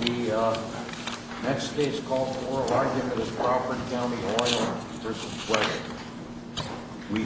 The next case called for an argument is Crawford County Oil v. Weger.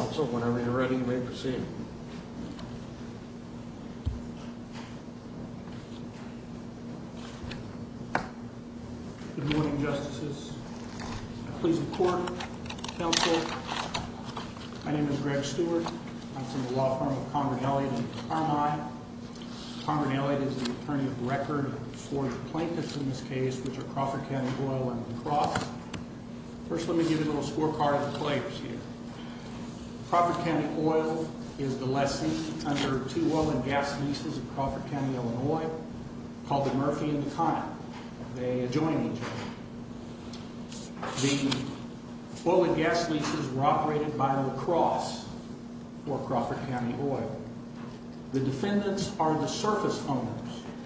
Also, whenever you're ready, you may proceed. Good morning, justices. Please report. My name is Greg Stewart. I'm from the law firm of Conrad Elliott and Carmine. Conrad Elliott is an attorney of the record for the plaintiffs in this case, which are Crawford County Oil and the Cross. First, let me give you a little scorecard of the players here. Crawford County Oil is the lessee under two oil and gas leases in Crawford County, Illinois called the Murphy and the Connick. They adjoin each other. The oil and gas leases were operated by the Cross for Crawford County Oil. The defendants are the surface owners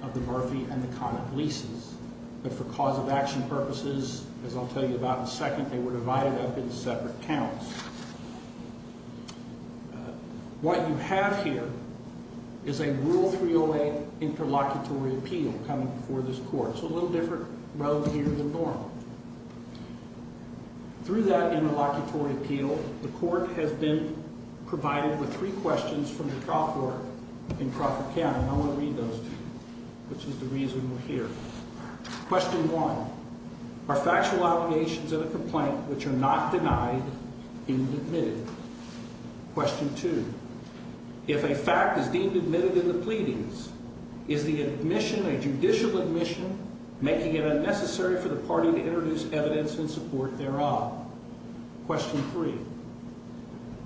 of the Murphy and the Connick leases. But for cause of action purposes, as I'll tell you about in a second, they were divided up into separate counts. What you have here is a Rule 308 interlocutory appeal coming before this court. It's a little different road here than normal. Through that interlocutory appeal, the court has been provided with three questions from the trial court in Crawford County. I want to read those to you, which is the reason we're here. Question one, are factual allegations in a complaint which are not denied deemed admitted? I want to introduce evidence in support thereof. Question three,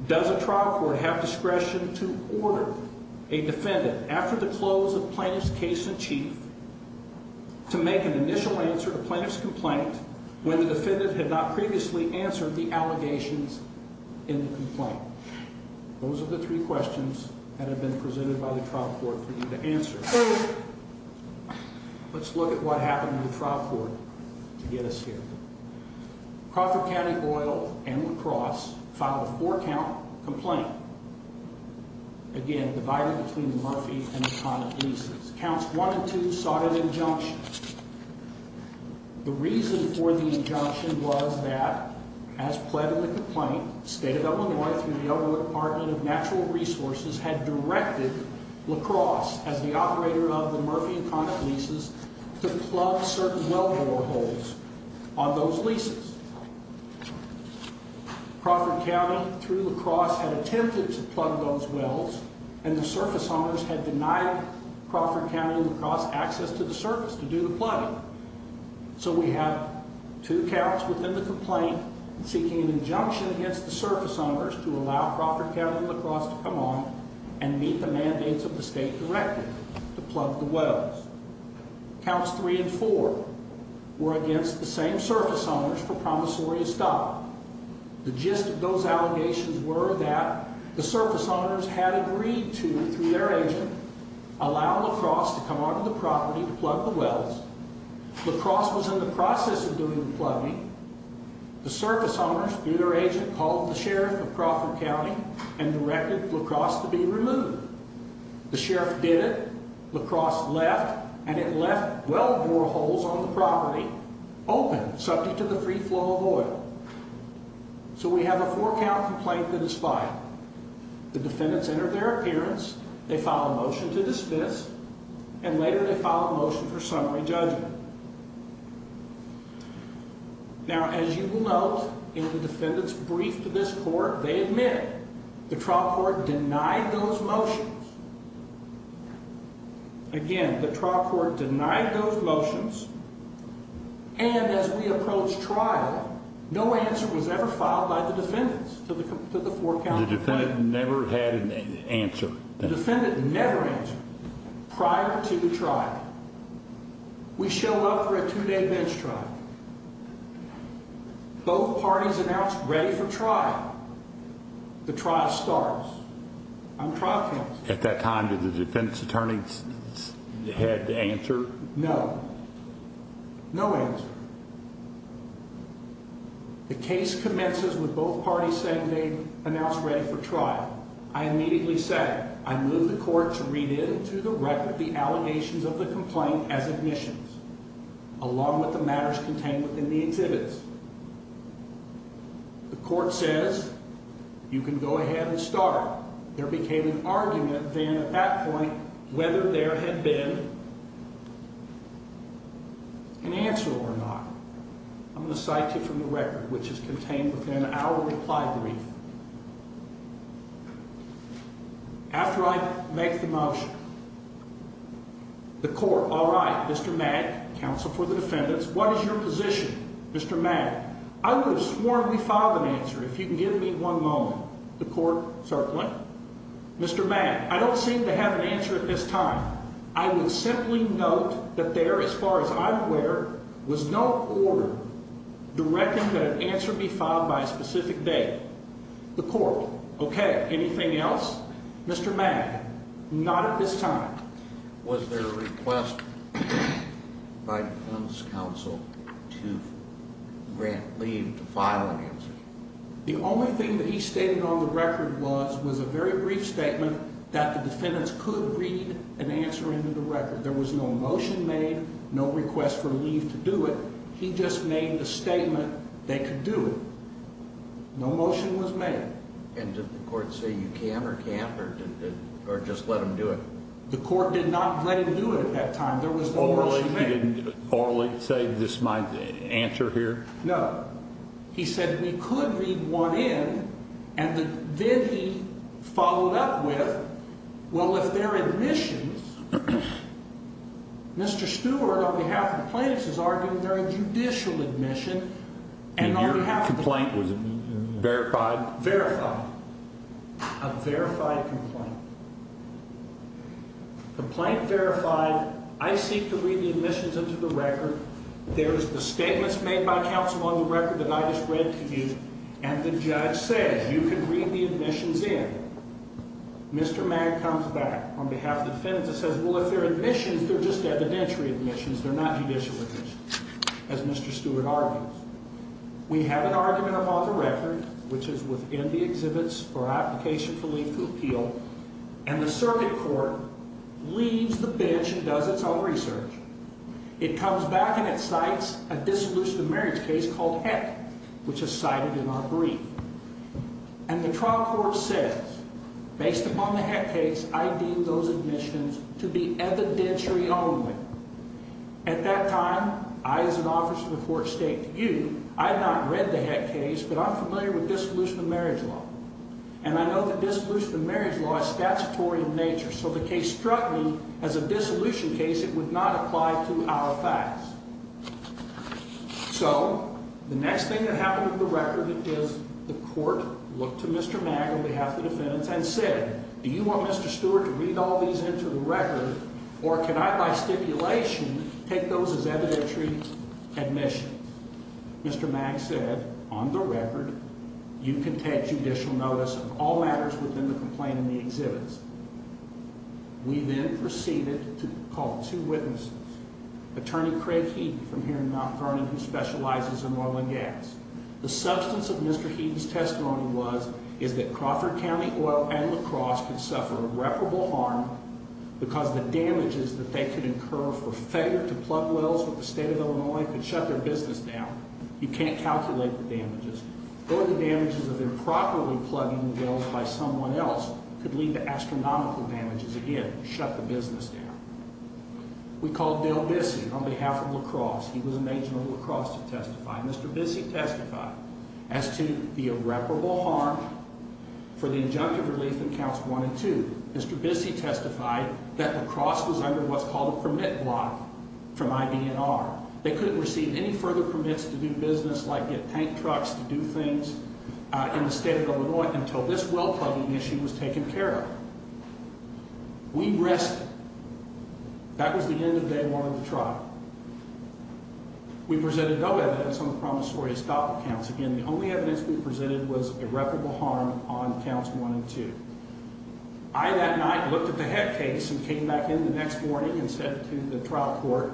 does a trial court have discretion to order a defendant after the close of plaintiff's case in chief to make an initial answer to plaintiff's complaint when the defendant had not previously answered the allegations in the complaint? Those are the three questions that have been presented by the trial court for you to answer. Let's look at what happened to the trial court to get us here. Crawford County Boyle and La Crosse filed a four-count complaint. Again, divided between the Murphy and the Connick leases. Counts one and two sought an injunction. The reason for the injunction was that, as pled in the complaint, the state of Illinois, through the Illinois Department of Natural Resources, had directed La Crosse, as the operator of the Murphy and Connick leases, to plug certain well door holes on those leases. Crawford County, through La Crosse, had attempted to plug those wells, and the surface owners had denied Crawford County and La Crosse access to the surface to do the plugging. So we have two counts within the complaint seeking an injunction against the surface owners to allow Crawford County and La Crosse to come on and meet the mandates of the state directive to plug the wells. Counts three and four were against the same surface owners for promissory stop. The gist of those allegations were that the surface owners had agreed to, through their agent, allow La Crosse to come onto the property to plug the wells. La Crosse was in the process of doing the plugging. The surface owners, through their agent, called the sheriff of Crawford County and directed La Crosse to be removed. The sheriff did it. La Crosse left, and it left well door holes on the property open, subject to the free flow of oil. So we have a four count complaint that is filed. The defendants entered their appearance. They filed a motion to dismiss, and later they filed a motion for summary judgment. Now, as you will note, in the defendant's brief to this court, they admit the trial court denied those motions. Again, the trial court denied those motions, and as we approached trial, no answer was ever filed by the defendants to the four count complaint. The defendant never had an answer. The defendant never answered prior to the trial. We showed up for a two-day bench trial. Both parties announced ready for trial. The trial starts. I'm trial counsel. At that time, did the defense attorney's head answer? No. No answer. The case commences with both parties saying they announced ready for trial. I immediately said, I move the court to read into the record the allegations of the complaint as admissions, along with the matters contained within the exhibits. The court says, you can go ahead and start. There became an argument then at that point whether there had been an answer or not. I'm going to cite you from the record, which is contained within our reply brief. After I make the motion, the court, all right, Mr. Mack, counsel for the defendants, what is your position? Mr. Mack, I would have sworn we filed an answer if you can give me one moment. The court, certainly. Mr. Mack, I don't seem to have an answer at this time. I would simply note that there, as far as I'm aware, was no order directing that an answer be filed by a specific date. The court. Okay. Anything else? Mr. Mack, not at this time. Was there a request by defense counsel to grant leave to file an answer? The only thing that he stated on the record was, was a very brief statement that the defendants could read an answer into the record. There was no motion made, no request for leave to do it. He just made the statement they could do it. No motion was made. And did the court say you can or can't or just let them do it? The court did not let him do it at that time. There was no motion made. Orally he didn't say this is my answer here? No. He said we could read one in, and then he followed up with, well, if they're admissions, Mr. The complaint was verified? Verified. A verified complaint. Complaint verified. I seek to read the admissions into the record. There's the statements made by counsel on the record that I just read to you, and the judge said you can read the admissions in. Mr. Mack comes back on behalf of the defendants and says, well, if they're admissions, they're just evidentiary admissions. They're not judicial admissions, as Mr. Stewart argues. We have an argument upon the record, which is within the exhibits for application for legal appeal. And the circuit court leaves the bench and does its own research. It comes back and it cites a dissolution of marriage case called heck, which is cited in our brief. And the trial court says, based upon the heck case, I deem those admissions to be evidentiary only. At that time, I, as an officer of the court, state to you, I had not read the heck case, but I'm familiar with dissolution of marriage law. And I know that dissolution of marriage law is statutory in nature. So the case struck me as a dissolution case. It would not apply to our facts. So the next thing that happened with the record is the court looked to Mr. Mack on behalf of the defendants and said, do you want Mr. Stewart to read all these into the record? Or can I, by stipulation, take those as evidentiary admission? Mr. Mack said, on the record, you can take judicial notice of all matters within the complaint in the exhibits. We then proceeded to call two witnesses, attorney Craig from here in Mount Vernon, who specializes in oil and gas. The substance of Mr. Heaton's testimony was, is that Crawford County Oil and La Crosse could suffer irreparable harm because the damages that they could incur for failure to plug wells with the state of Illinois could shut their business down. You can't calculate the damages. Or the damages of improperly plugging wells by someone else could lead to astronomical damages, again, shut the business down. We called Bill Bissey on behalf of La Crosse. Mr. Bissey testified as to the irreparable harm for the injunctive relief in counts one and two. Mr. Bissey testified that La Crosse was under what's called a permit block from IBNR. They couldn't receive any further permits to do business like get paint trucks to do things in the state of Illinois until this well plugging issue was taken care of. We rested. That was the end of day one of the trial. We presented no evidence on the promissory stop counts. Again, the only evidence we presented was irreparable harm on counts one and two. I, that night, looked at the head case and came back in the next morning and said to the trial court,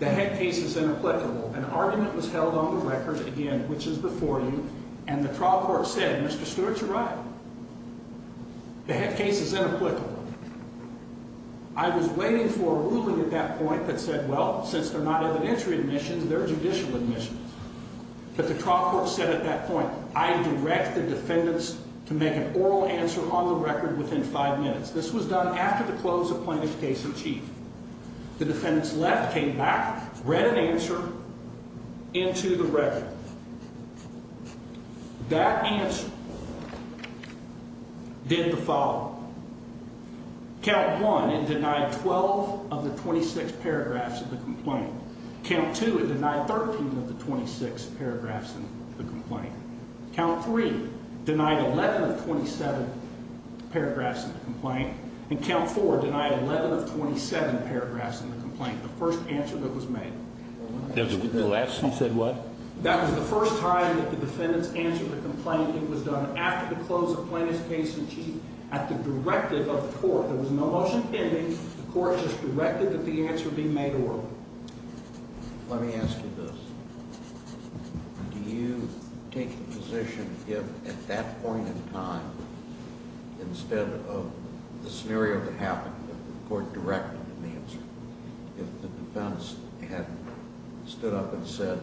the head case is inapplicable. An argument was held on the record, again, which is before you. And the trial court said, Mr. Stewart's right. The head case is inapplicable. I was waiting for a ruling at that point that said, well, since they're not evidentiary admissions, they're judicial admissions. But the trial court said at that point, I direct the defendants to make an oral answer on the record within five minutes. This was done after the close of plaintiff's case in chief. The defendants left, came back, read an answer into the record. That answer. Did the following. Count one and denied 12 of the 26 paragraphs of the complaint. Count two and denied 13 of the 26 paragraphs of the complaint. Count three denied 11 of 27 paragraphs of the complaint. And count four denied 11 of 27 paragraphs of the complaint. The first answer that was made. The last you said what? That was the first time that the defendants answered the complaint. It was done after the close of plaintiff's case in chief. At the directive of the court, there was no motion pending. The court just directed that the answer be made oral. Let me ask you this. Do you take the position if at that point in time, instead of the scenario that happened, the court directed the answer. If the defense had stood up and said,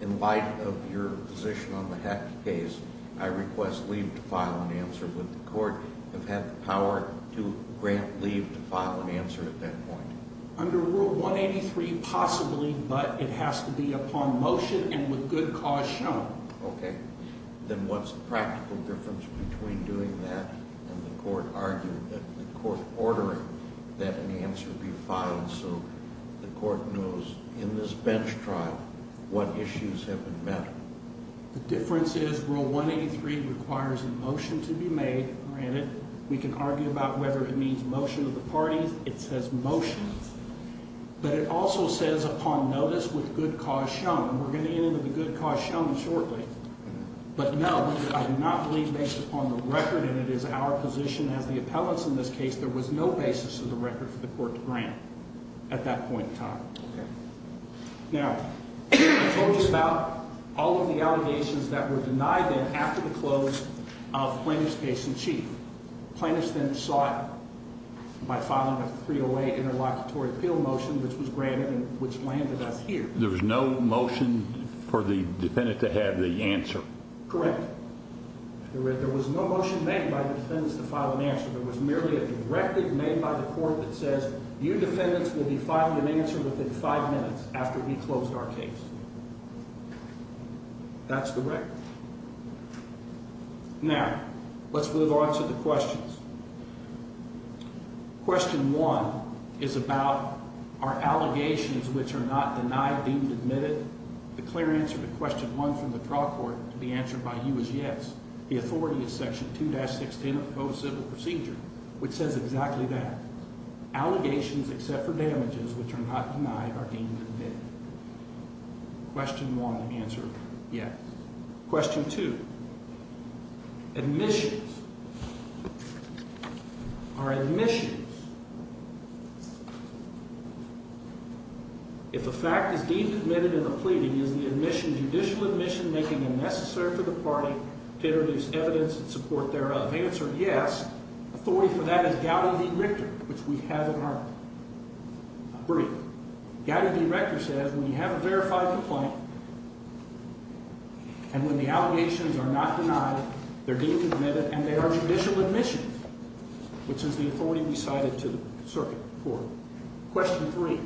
in light of your position on the Hecht case, I request leave to file an answer. Would the court have had the power to grant leave to file an answer at that point? Under Rule 183, possibly, but it has to be upon motion and with good cause shown. Okay. Then what's the practical difference between doing that and the court arguing that the court ordering that an answer be filed so the court knows in this bench trial what issues have been met? The difference is Rule 183 requires a motion to be made. We can argue about whether it means motion of the parties. It says motion. But it also says upon notice with good cause shown. And we're going to get into the good cause shown shortly. But no, I do not believe based upon the record, and it is our position as the appellants in this case, there was no basis in the record for the court to grant at that point in time. Okay. Now, I told you about all of the allegations that were denied then after the close of Plaintiff's case in chief. Plaintiff's then sought, by filing a 308 interlocutory appeal motion, which was granted and which landed us here. There was no motion for the defendant to have the answer. Correct. There was no motion made by the defendants to file an answer. There was merely a directive made by the court that says you defendants will be filing an answer within five minutes after we closed our case. That's the record. Now, let's move on to the questions. Question one is about are allegations which are not denied deemed admitted? The clear answer to question one from the trial court to be answered by you is yes. The authority is section 2-16 of the civil procedure, which says exactly that. Allegations except for damages which are not denied are deemed admitted. Question one, answer yes. Question two, admissions. Are admissions, if a fact is deemed admitted in the pleading, is the admission, judicial admission, making it necessary for the party to introduce evidence and support thereof? Answer yes. Authority for that is Gowdy v. Richter, which we have in our brief. Gowdy v. Richter says when you have a verified complaint and when the allegations are not denied, they're deemed admitted and they are judicial admissions. The authority is cited to the circuit court. Question three.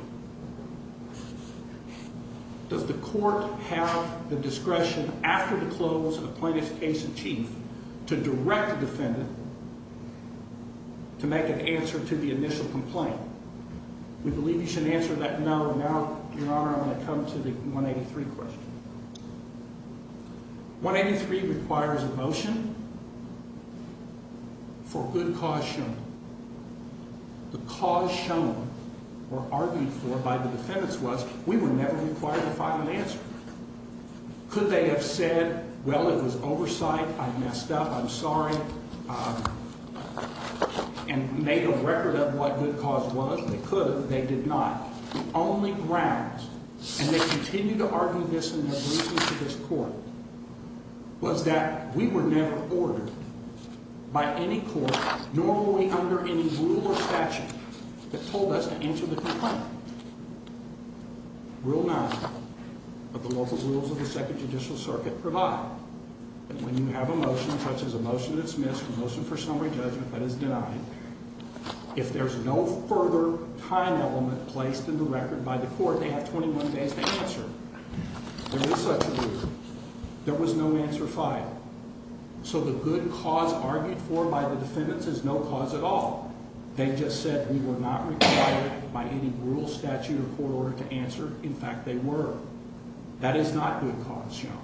Does the court have the discretion after the close of the plaintiff's case in chief to direct the defendant to make an answer to the initial complaint? We believe you should answer that no. Now, Your Honor, I'm going to come to the 183 question. 183 requires a motion for good cause shown. The cause shown or argued for by the defendants was we were never required to find an answer. Could they have said, well, it was oversight, I messed up, I'm sorry, and made a record of what good cause was? They could, but they did not. The only grounds, and they continue to argue this in their briefings to this court, was that we were never ordered by any court, nor were we under any rule or statute, that told us to answer the complaint. Rule nine of the local rules of the Second Judicial Circuit provide that when you have a motion, such as a motion to dismiss, a motion for summary judgment that is denied, if there's no further time element placed in the record by the court, they have 21 days to answer. There is such a rule. There was no answer filed. So the good cause argued for by the defendants is no cause at all. They just said we were not required by any rule, statute, or court order to answer. In fact, they were. That is not good cause shown.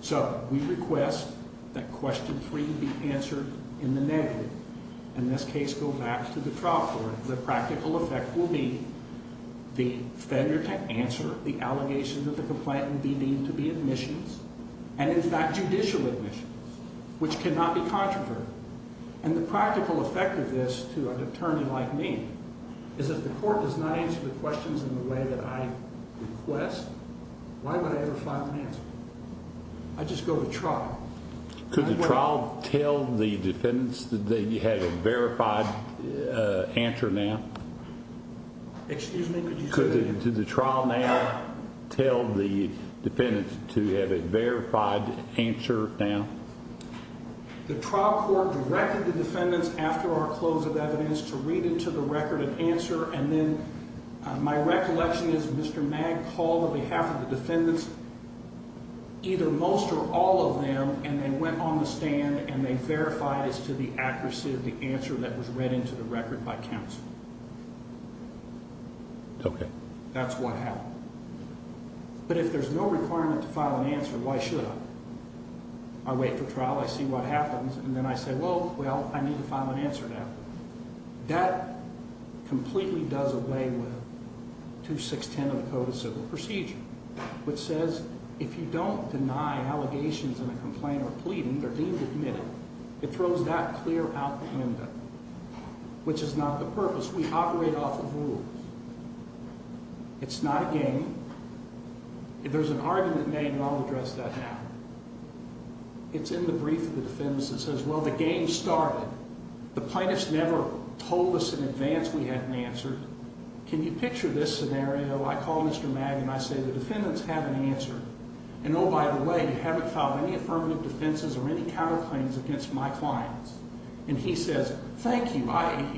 So we request that question three be answered in the negative. In this case, go back to the trial court. The practical effect will be the failure to answer the allegation that the complaint will be deemed to be admissions, and in fact, judicial admissions, which cannot be controversial. And the practical effect of this to a attorney like me is that the court does not answer the questions in the way that I request. Why would I ever find an answer? I just go to trial. Could the trial tell the defendants that you have a verified answer now? Excuse me? Could you say that again? Could the trial now tell the defendants to have a verified answer now? The trial court directed the defendants after our close of evidence to read into the record an answer. And then my recollection is Mr. Mag called on behalf of the defendants, either most or all of them, and they went on the stand and they verified as to the accuracy of the answer that was read into the record by counsel. Okay. That's what happened. But if there's no requirement to file an answer, why should I? I wait for trial. I see what happens, and then I say, well, I need to file an answer now. That completely does away with 2610 of the Code of Civil Procedure, which says if you don't deny allegations in a complaint or pleading, they're deemed admitted. It throws that clear out the window, which is not the purpose. We operate off of rules. It's not a game. There's an argument made, and I'll address that now. It's in the brief of the defendants that says, well, the game started. The plaintiffs never told us in advance we had an answer. Can you picture this scenario? I call Mr. Mag, and I say, the defendants have an answer. And oh, by the way, you haven't filed any affirmative defenses or any counterclaims against my clients. And he says, thank you.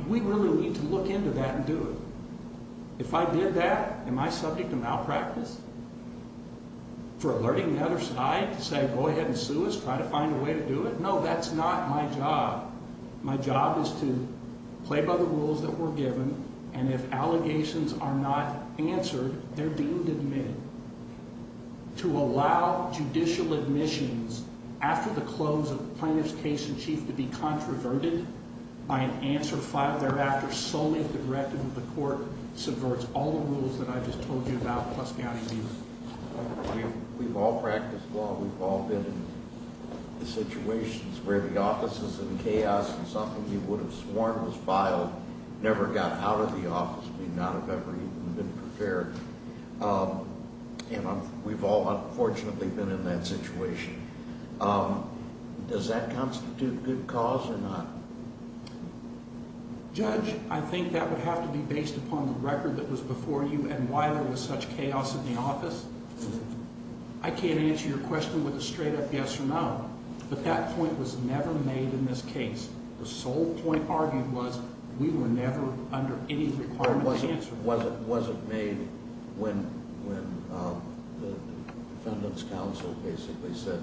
We really need to look into that and do it. If I did that, am I subject to malpractice? For alerting the other side to say, go ahead and sue us, try to find a way to do it? No, that's not my job. My job is to play by the rules that were given, and if allegations are not answered, they're deemed admitted. To allow judicial admissions after the close of the plaintiff's case in chief to be controverted by an answer filed thereafter solely at the directive of the court subverts all the rules that I just told you about, plus county views. We've all practiced law. We've all been in situations where the office is in chaos and something we would have sworn was filed, never got out of the office, may not have ever even been prepared. And we've all unfortunately been in that situation. Does that constitute good cause or not? Judge, I think that would have to be based upon the record that was before you and why there was such chaos in the office. I can't answer your question with a straight up yes or no. But that point was never made in this case. The sole point argued was we were never under any requirement to answer. It wasn't made when the defendant's counsel basically said,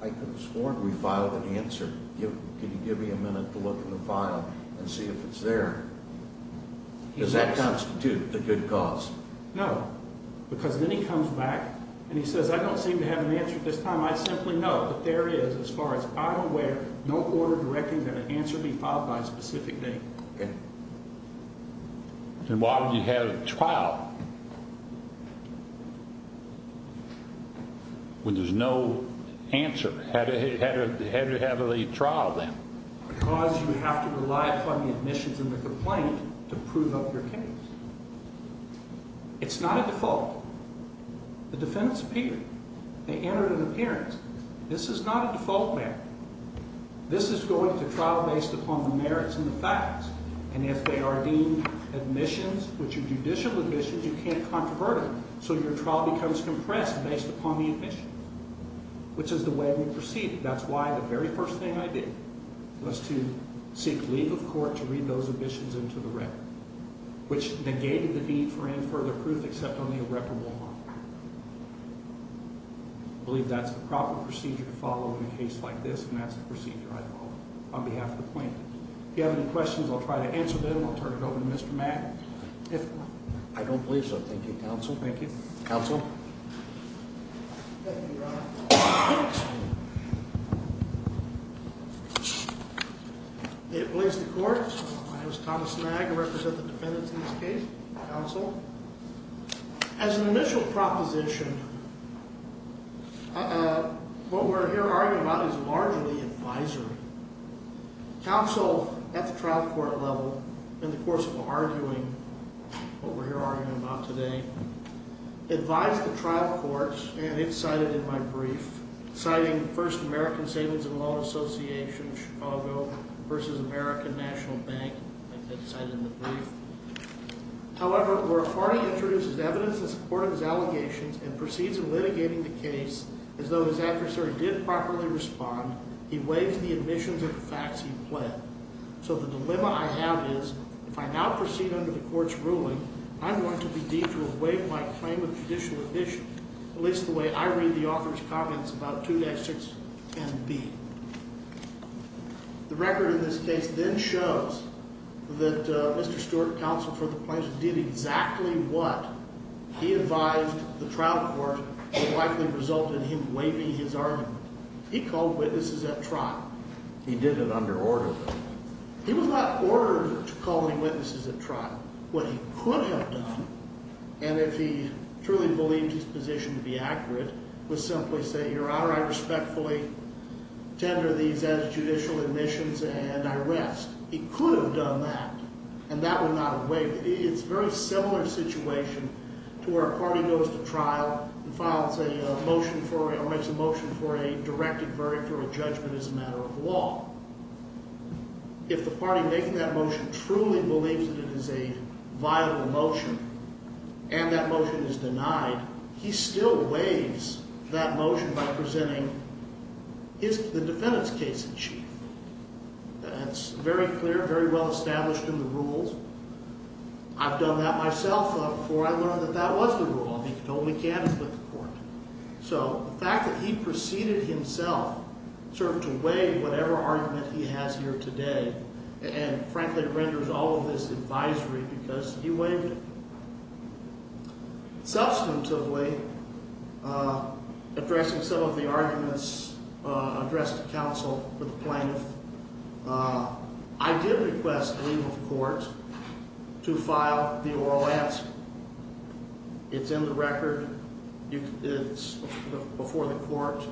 I could have sworn we filed an answer. Could you give me a minute to look in the file and see if it's there? Does that constitute a good cause? No, because then he comes back and he says, I don't seem to have an answer at this time. I simply know that there is, as far as I'm aware, no order directing that an answer be filed by a specific name. And why would you have a trial when there's no answer? How do you have a trial then? Because you have to rely upon the admissions and the complaint to prove up your case. It's not a default. The defendant's appeared. They entered an appearance. This is not a default matter. This is going to trial based upon the merits and the facts. And if they are deemed admissions, which are judicial admissions, you can't controvert them. So your trial becomes compressed based upon the admissions, which is the way we proceeded. That's why the very first thing I did was to seek leave of court to read those admissions into the record, which negated the need for any further proof except on the irreparable harm. I believe that's the proper procedure to follow in a case like this. And that's the procedure I follow on behalf of the plaintiff. If you have any questions, I'll try to answer them. I'll turn it over to Mr. Mag. I don't believe so. Thank you, counsel. May it please the court. My name is Thomas Mag. I represent the defendants in this case. Counsel. In opposition, what we're here arguing about is largely advisory. Counsel, at the trial court level, in the course of arguing what we're here arguing about today, advised the trial courts, and it's cited in my brief, citing First American Savings and Loan Association, Chicago, versus American National Bank. That's cited in the brief. However, where a party introduces evidence in support of his allegations and proceeds in litigating the case as though his adversary didn't properly respond, he waives the admissions of the facts he pled. So the dilemma I have is, if I now proceed under the court's ruling, I'm going to be deemed to have waived my claim of judicial admission, at least the way I read the author's comments about 2.6 and B. The record in this case then shows that Mr. Stewart, counsel for the plaintiff, did exactly what he advised the trial court would likely result in him waiving his argument. He called witnesses at trial. He did it under order, though. He was not ordered to call any witnesses at trial. What he could have done, and if he truly believed his position to be accurate, was simply say, Your Honor, I respectfully tender these as judicial admissions, and I rest. He could have done that, and that would not have waived. It's a very similar situation to where a party goes to trial and files a motion for, or makes a motion for a directed verdict or a judgment as a matter of law. If the party making that motion truly believes that it is a viable motion, and that motion is denied, he still waives that motion by presenting the defendant's case in chief. That's very clear, very well established in the rules. I've done that myself before I learned that that was the rule. All he can do is go to the court. So the fact that he proceeded himself to waive whatever argument he has here today, and frankly renders all of this advisory because he waived it. Substantively, addressing some of the arguments addressed to counsel for the plaintiff, I did request leave of court to file the oral ask. It's in the record. It's before the court.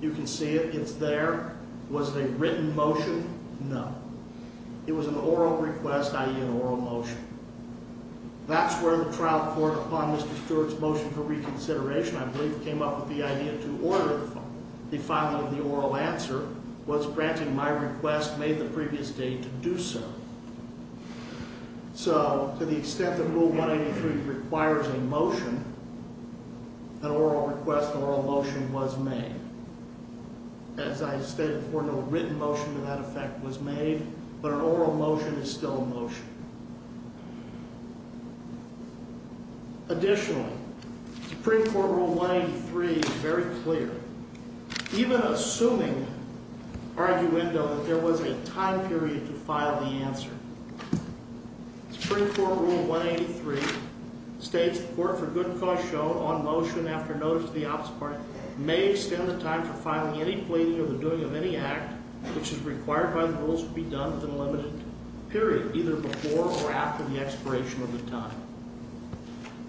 You can see it. It's there. Was it a written motion? No. It was an oral request, i.e. an oral motion. That's where the trial court, upon Mr. Stewart's motion for reconsideration, I believe came up with the idea to order the filing of the oral answer, was granting my request made the previous day to do so. So to the extent that Rule 183 requires a motion, an oral request, an oral motion was made. As I stated before, no written motion to that effect was made, but an oral motion is still a motion. Additionally, Supreme Court Rule 183 is very clear. Even assuming arguendo that there was a time period to file the answer, Supreme Court Rule 183 states, the court for good cause shown on motion after notice to the opposite party may extend the time for filing any pleading or the doing of any act which is required by the rules to be done within a limited period, either before or after the expiration of the time.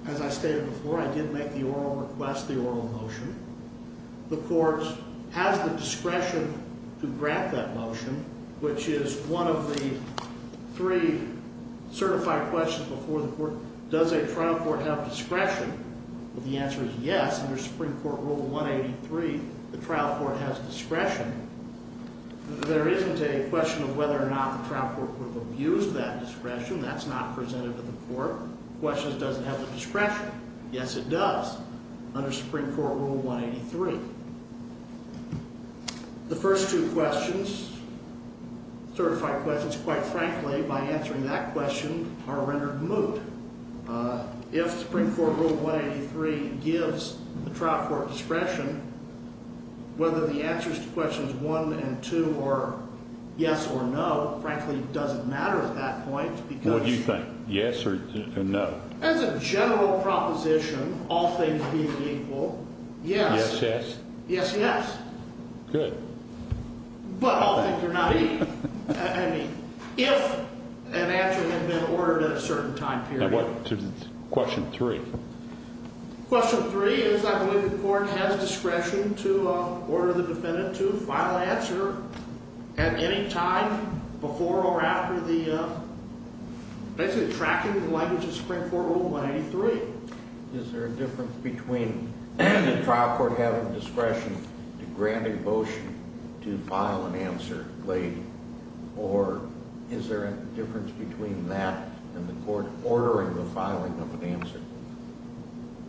As I stated before, I did make the oral request, the oral motion. The court has the discretion to grant that motion, which is one of the three certified questions before the court. Does a trial court have discretion? The answer is yes, under Supreme Court Rule 183, the trial court has discretion. There isn't a question of whether or not the trial court would abuse that discretion. That's not presented to the court. The question is, does it have the discretion? Yes, it does, under Supreme Court Rule 183. The first two questions, certified questions, quite frankly, by answering that question are rendered moot. If Supreme Court Rule 183 gives the trial court discretion, whether the answers to questions one and two are yes or no, frankly, doesn't matter at that point because... What do you think? Yes or no? As a general proposition, all things being equal, yes. Yes, yes? Yes, yes. Good. But all things are not equal. I mean, if an answer had been ordered at a certain time period... Now, what, question three? Question three is, I believe the court has discretion to order the defendant to file an answer at any time before or after basically tracking the language of Supreme Court Rule 183. Is there a difference between the trial court having discretion to grant a motion to file an answer late, or is there a difference between that and the court ordering the filing of an answer?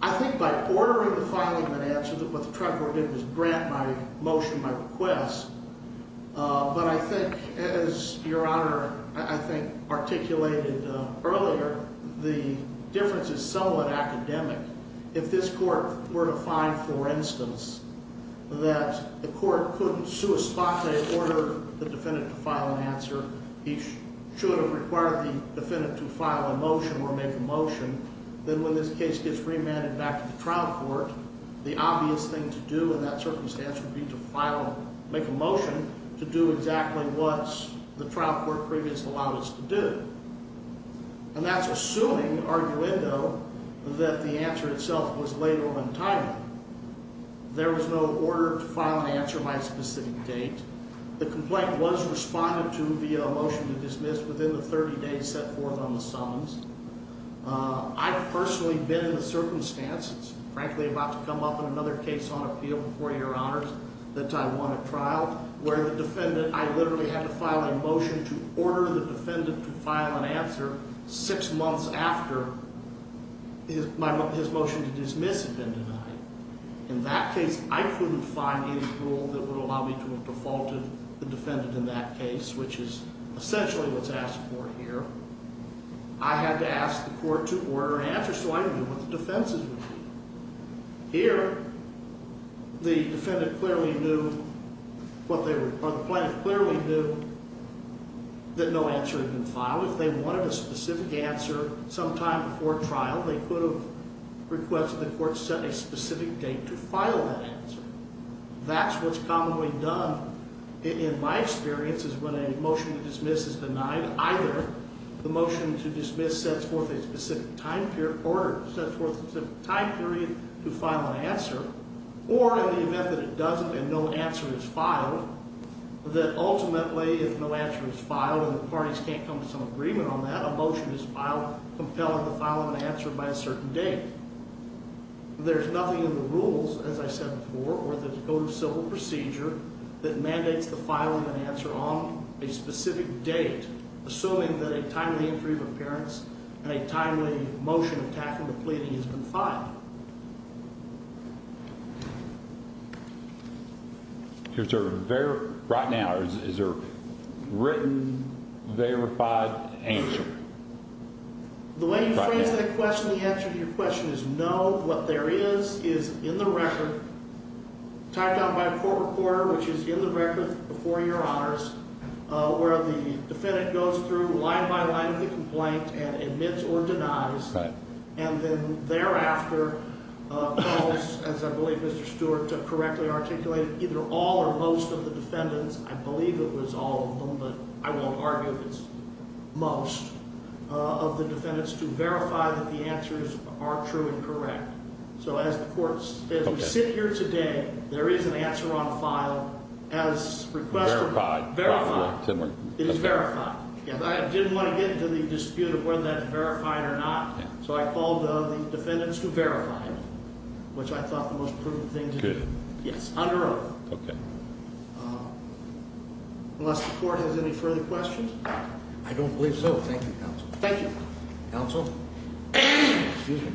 I think by ordering the filing of an answer, what the trial court did was grant my motion, my request. But I think, as Your Honor, I think, articulated earlier, the difference is somewhat academic. If this court were to find, for instance, that the court couldn't sua spate, order the defendant to file an answer, he should have required the defendant to file a motion or make a motion, then when this case gets remanded back to the trial court, the obvious thing to do in that circumstance would be to file, make a motion, to do exactly what the trial court previously allowed us to do. And that's assuming, arguendo, that the answer itself was late or untimely. There was no order to file an answer my specific date. The complaint was responded to via a motion to dismiss within the 30 days set forth on the summons. I've personally been in the circumstances, frankly about to come up in another case on appeal before Your Honors, that I won a trial where the defendant, I literally had to file a motion to order the defendant to file an answer six months after his motion to dismiss had been denied. In that case, I couldn't find any rule that would allow me to have defaulted the defendant in that case, which is essentially what's asked for here. I had to ask the court to order an answer so I could do what the defense would do. Here, the defendant clearly knew what they were, or the plaintiff clearly knew that no answer had been filed. If they wanted a specific answer sometime before trial, they could have requested the court set a specific date to file that answer. That's what's commonly done in my experience is when a motion to dismiss is denied, either the motion to dismiss sets forth a specific time period or sets forth a specific time period to file an answer, or in the event that it doesn't and no answer is filed, that ultimately if no answer is filed and the parties can't come to some agreement on that, that motion is filed compelling to file an answer by a certain date. There's nothing in the rules, as I said before, or the code of civil procedure, that mandates the filing of an answer on a specific date, assuming that a timely entry of appearance and a timely motion to tackle the pleading has been filed. Right now, is there a written, verified answer? The way you phrased that question, the answer to your question is no. What there is, is in the record, tied down by a court recorder, which is in the record before your honors, where the defendant goes through line by line with the complaint and admits or denies, and then thereafter, calls, as I believe Mr. Stewart correctly articulated, either all or most of the defendants, I believe it was all of them, but I won't argue if it's most of the defendants, to verify that the answers are true and correct. So as we sit here today, there is an answer on file as requested. Verified. It is verified. I didn't want to get into the dispute of whether that's verified or not, so I called the defendants to verify it, which I thought the most prudent thing to do. Good. Yes, on their own. Okay. Unless the court has any further questions? I don't believe so. Thank you, counsel. Thank you. Counsel? Excuse me.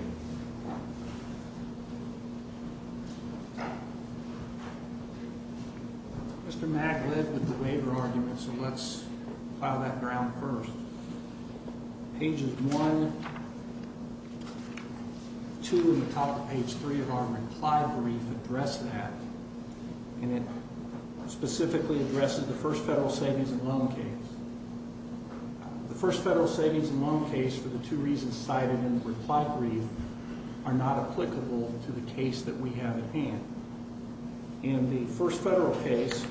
Mr. Magg led with the waiver argument, so let's file that ground first. Pages 1, 2, and the top of page 3 of our reply brief address that, and it specifically addresses the first federal savings and loan case. The first federal savings and loan case, for the two reasons cited in the reply brief, are not applicable to the case that we have at hand. In the first federal case,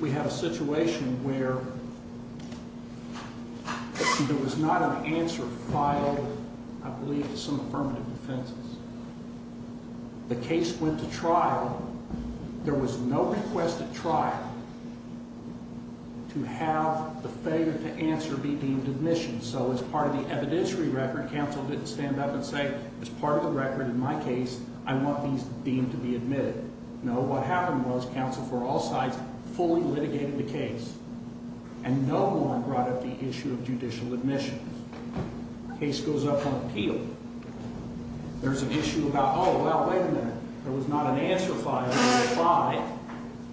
we have a situation where there was not an answer filed, I believe, to some affirmative defenses. The case went to trial. There was no request at trial to have the failure to answer be deemed admission, so as part of the evidentiary record, counsel didn't stand up and say, as part of the record in my case, I want these deemed to be admitted. No, what happened was, counsel, for all sides, fully litigated the case, and no one brought up the issue of judicial admissions. The case goes up on appeal. There's an issue about, oh, well, wait a minute. There was not an answer filed.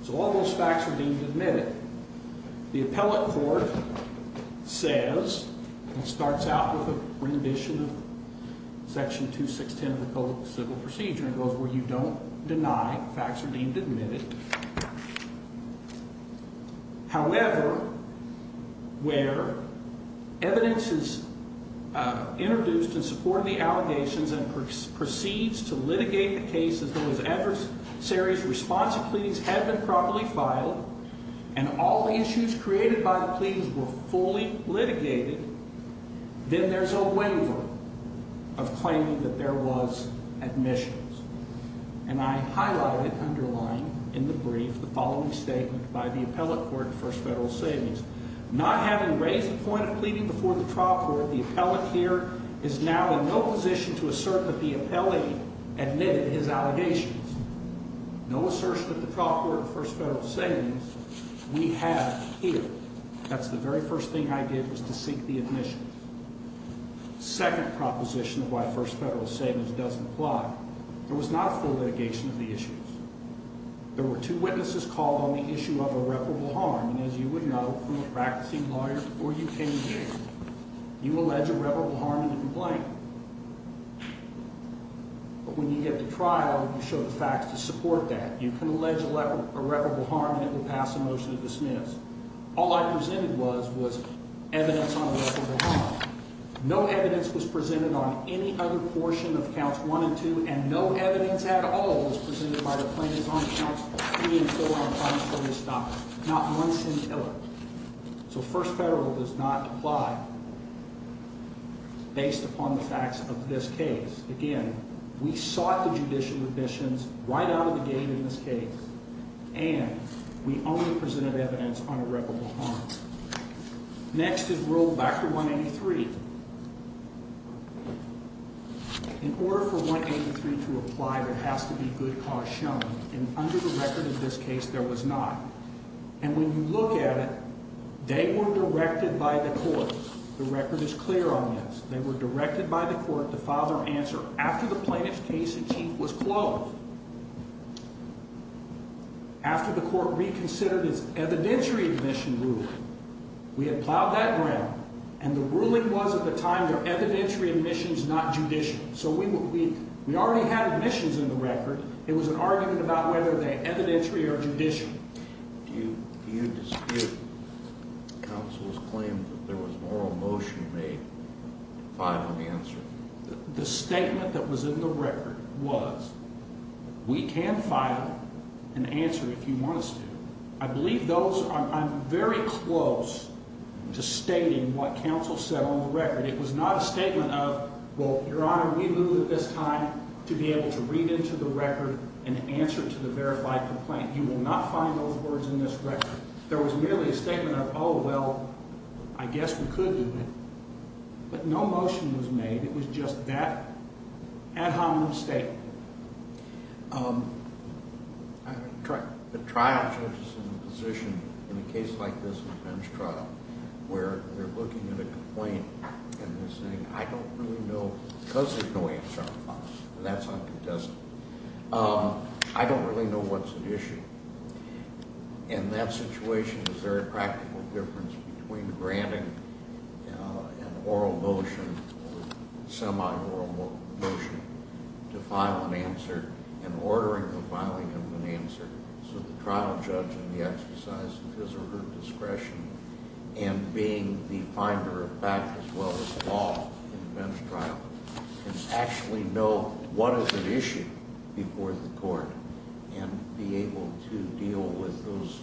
So all those facts are deemed admitted. The appellate court says, and it starts out with a rendition of Section 216 of the Code of Civil Procedure, and it goes, well, you don't deny facts are deemed admitted. However, where evidence is introduced in support of the allegations and proceeds to litigate the case as though his adversary's response to pleadings had been properly filed, and all the issues created by the pleadings were fully litigated, then there's a waiver of claiming that there was admissions, and I highlight it, underline in the brief the following statement by the appellate court at First Federal Savings. Not having raised a point of pleading before the trial court, the appellate here is now in no position to assert that the appellee admitted his allegations. No assertion at the trial court at First Federal Savings. We have here. That's the very first thing I did was to seek the admissions. Second proposition of why First Federal Savings doesn't apply. There was not a full litigation of the issues. There were two witnesses called on the issue of irreparable harm, and as you would know from a practicing lawyer before you came here, you allege irreparable harm in a complaint. But when you get to trial, you show the facts to support that. You can allege irreparable harm and it will pass a motion to dismiss. All I presented was evidence on irreparable harm. No evidence was presented on any other portion of counts one and two, and no evidence at all on any other plaintiff's own accounts three and four on crimes from this document. Not one single one. So First Federal does not apply based upon the facts of this case. Again, we sought the judicial admissions right out of the gate in this case, and we only presented evidence on irreparable harm. Next is Rule 183. In order for 183 to apply, there has to be good cause shown. And under the record of this case, there was not. And when you look at it, they were directed by the court. The record is clear on this. They were directed by the court to file their answer after the plaintiff's case achieved was closed, after the court reconsidered its evidentiary admission rule. We had plowed that ground, and the ruling was at the time their evidentiary admission in the record. It was an argument about whether they evidentiary or judicial. Do you dispute counsel's claim that there was an oral motion made to file an answer? The statement that was in the record was, we can file an answer if you want us to. I believe those, I'm very close to stating what counsel said on the record. It was not a statement of, we will look into the record and answer to the verified complaint. You will not find those words in this record. There was merely a statement of, oh, well, I guess we could do it. But no motion was made. It was just that ad hominem statement. The trial judge is in a position, in a bench trial, where they're looking at a complaint and they're saying, I don't really know, because there's no answer on the file, and that's uncontested, I don't really know what's at issue. In that situation, is there a practical difference between granting an oral motion or semi-oral motion to file an answer and ordering the filing of an answer so the trial judge in the exercise of his or her discretion and being the finder of fact as well as law in a bench trial can actually know what is at issue before the court and be able to deal with those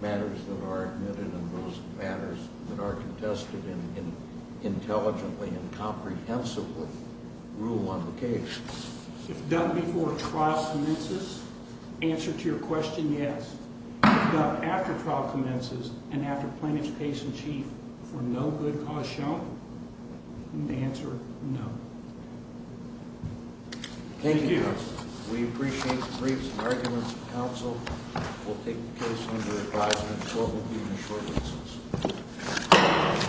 matters that are admitted and those matters that are contested intelligently and comprehensively rule on the case. If done before trial commences, answer to your question, yes. If done after trial commences and after plaintiff's case in chief for no good cause shown, answer no. Thank you. We appreciate the briefs and arguments of counsel. We'll take the case under advisement and the court will be in a short instance.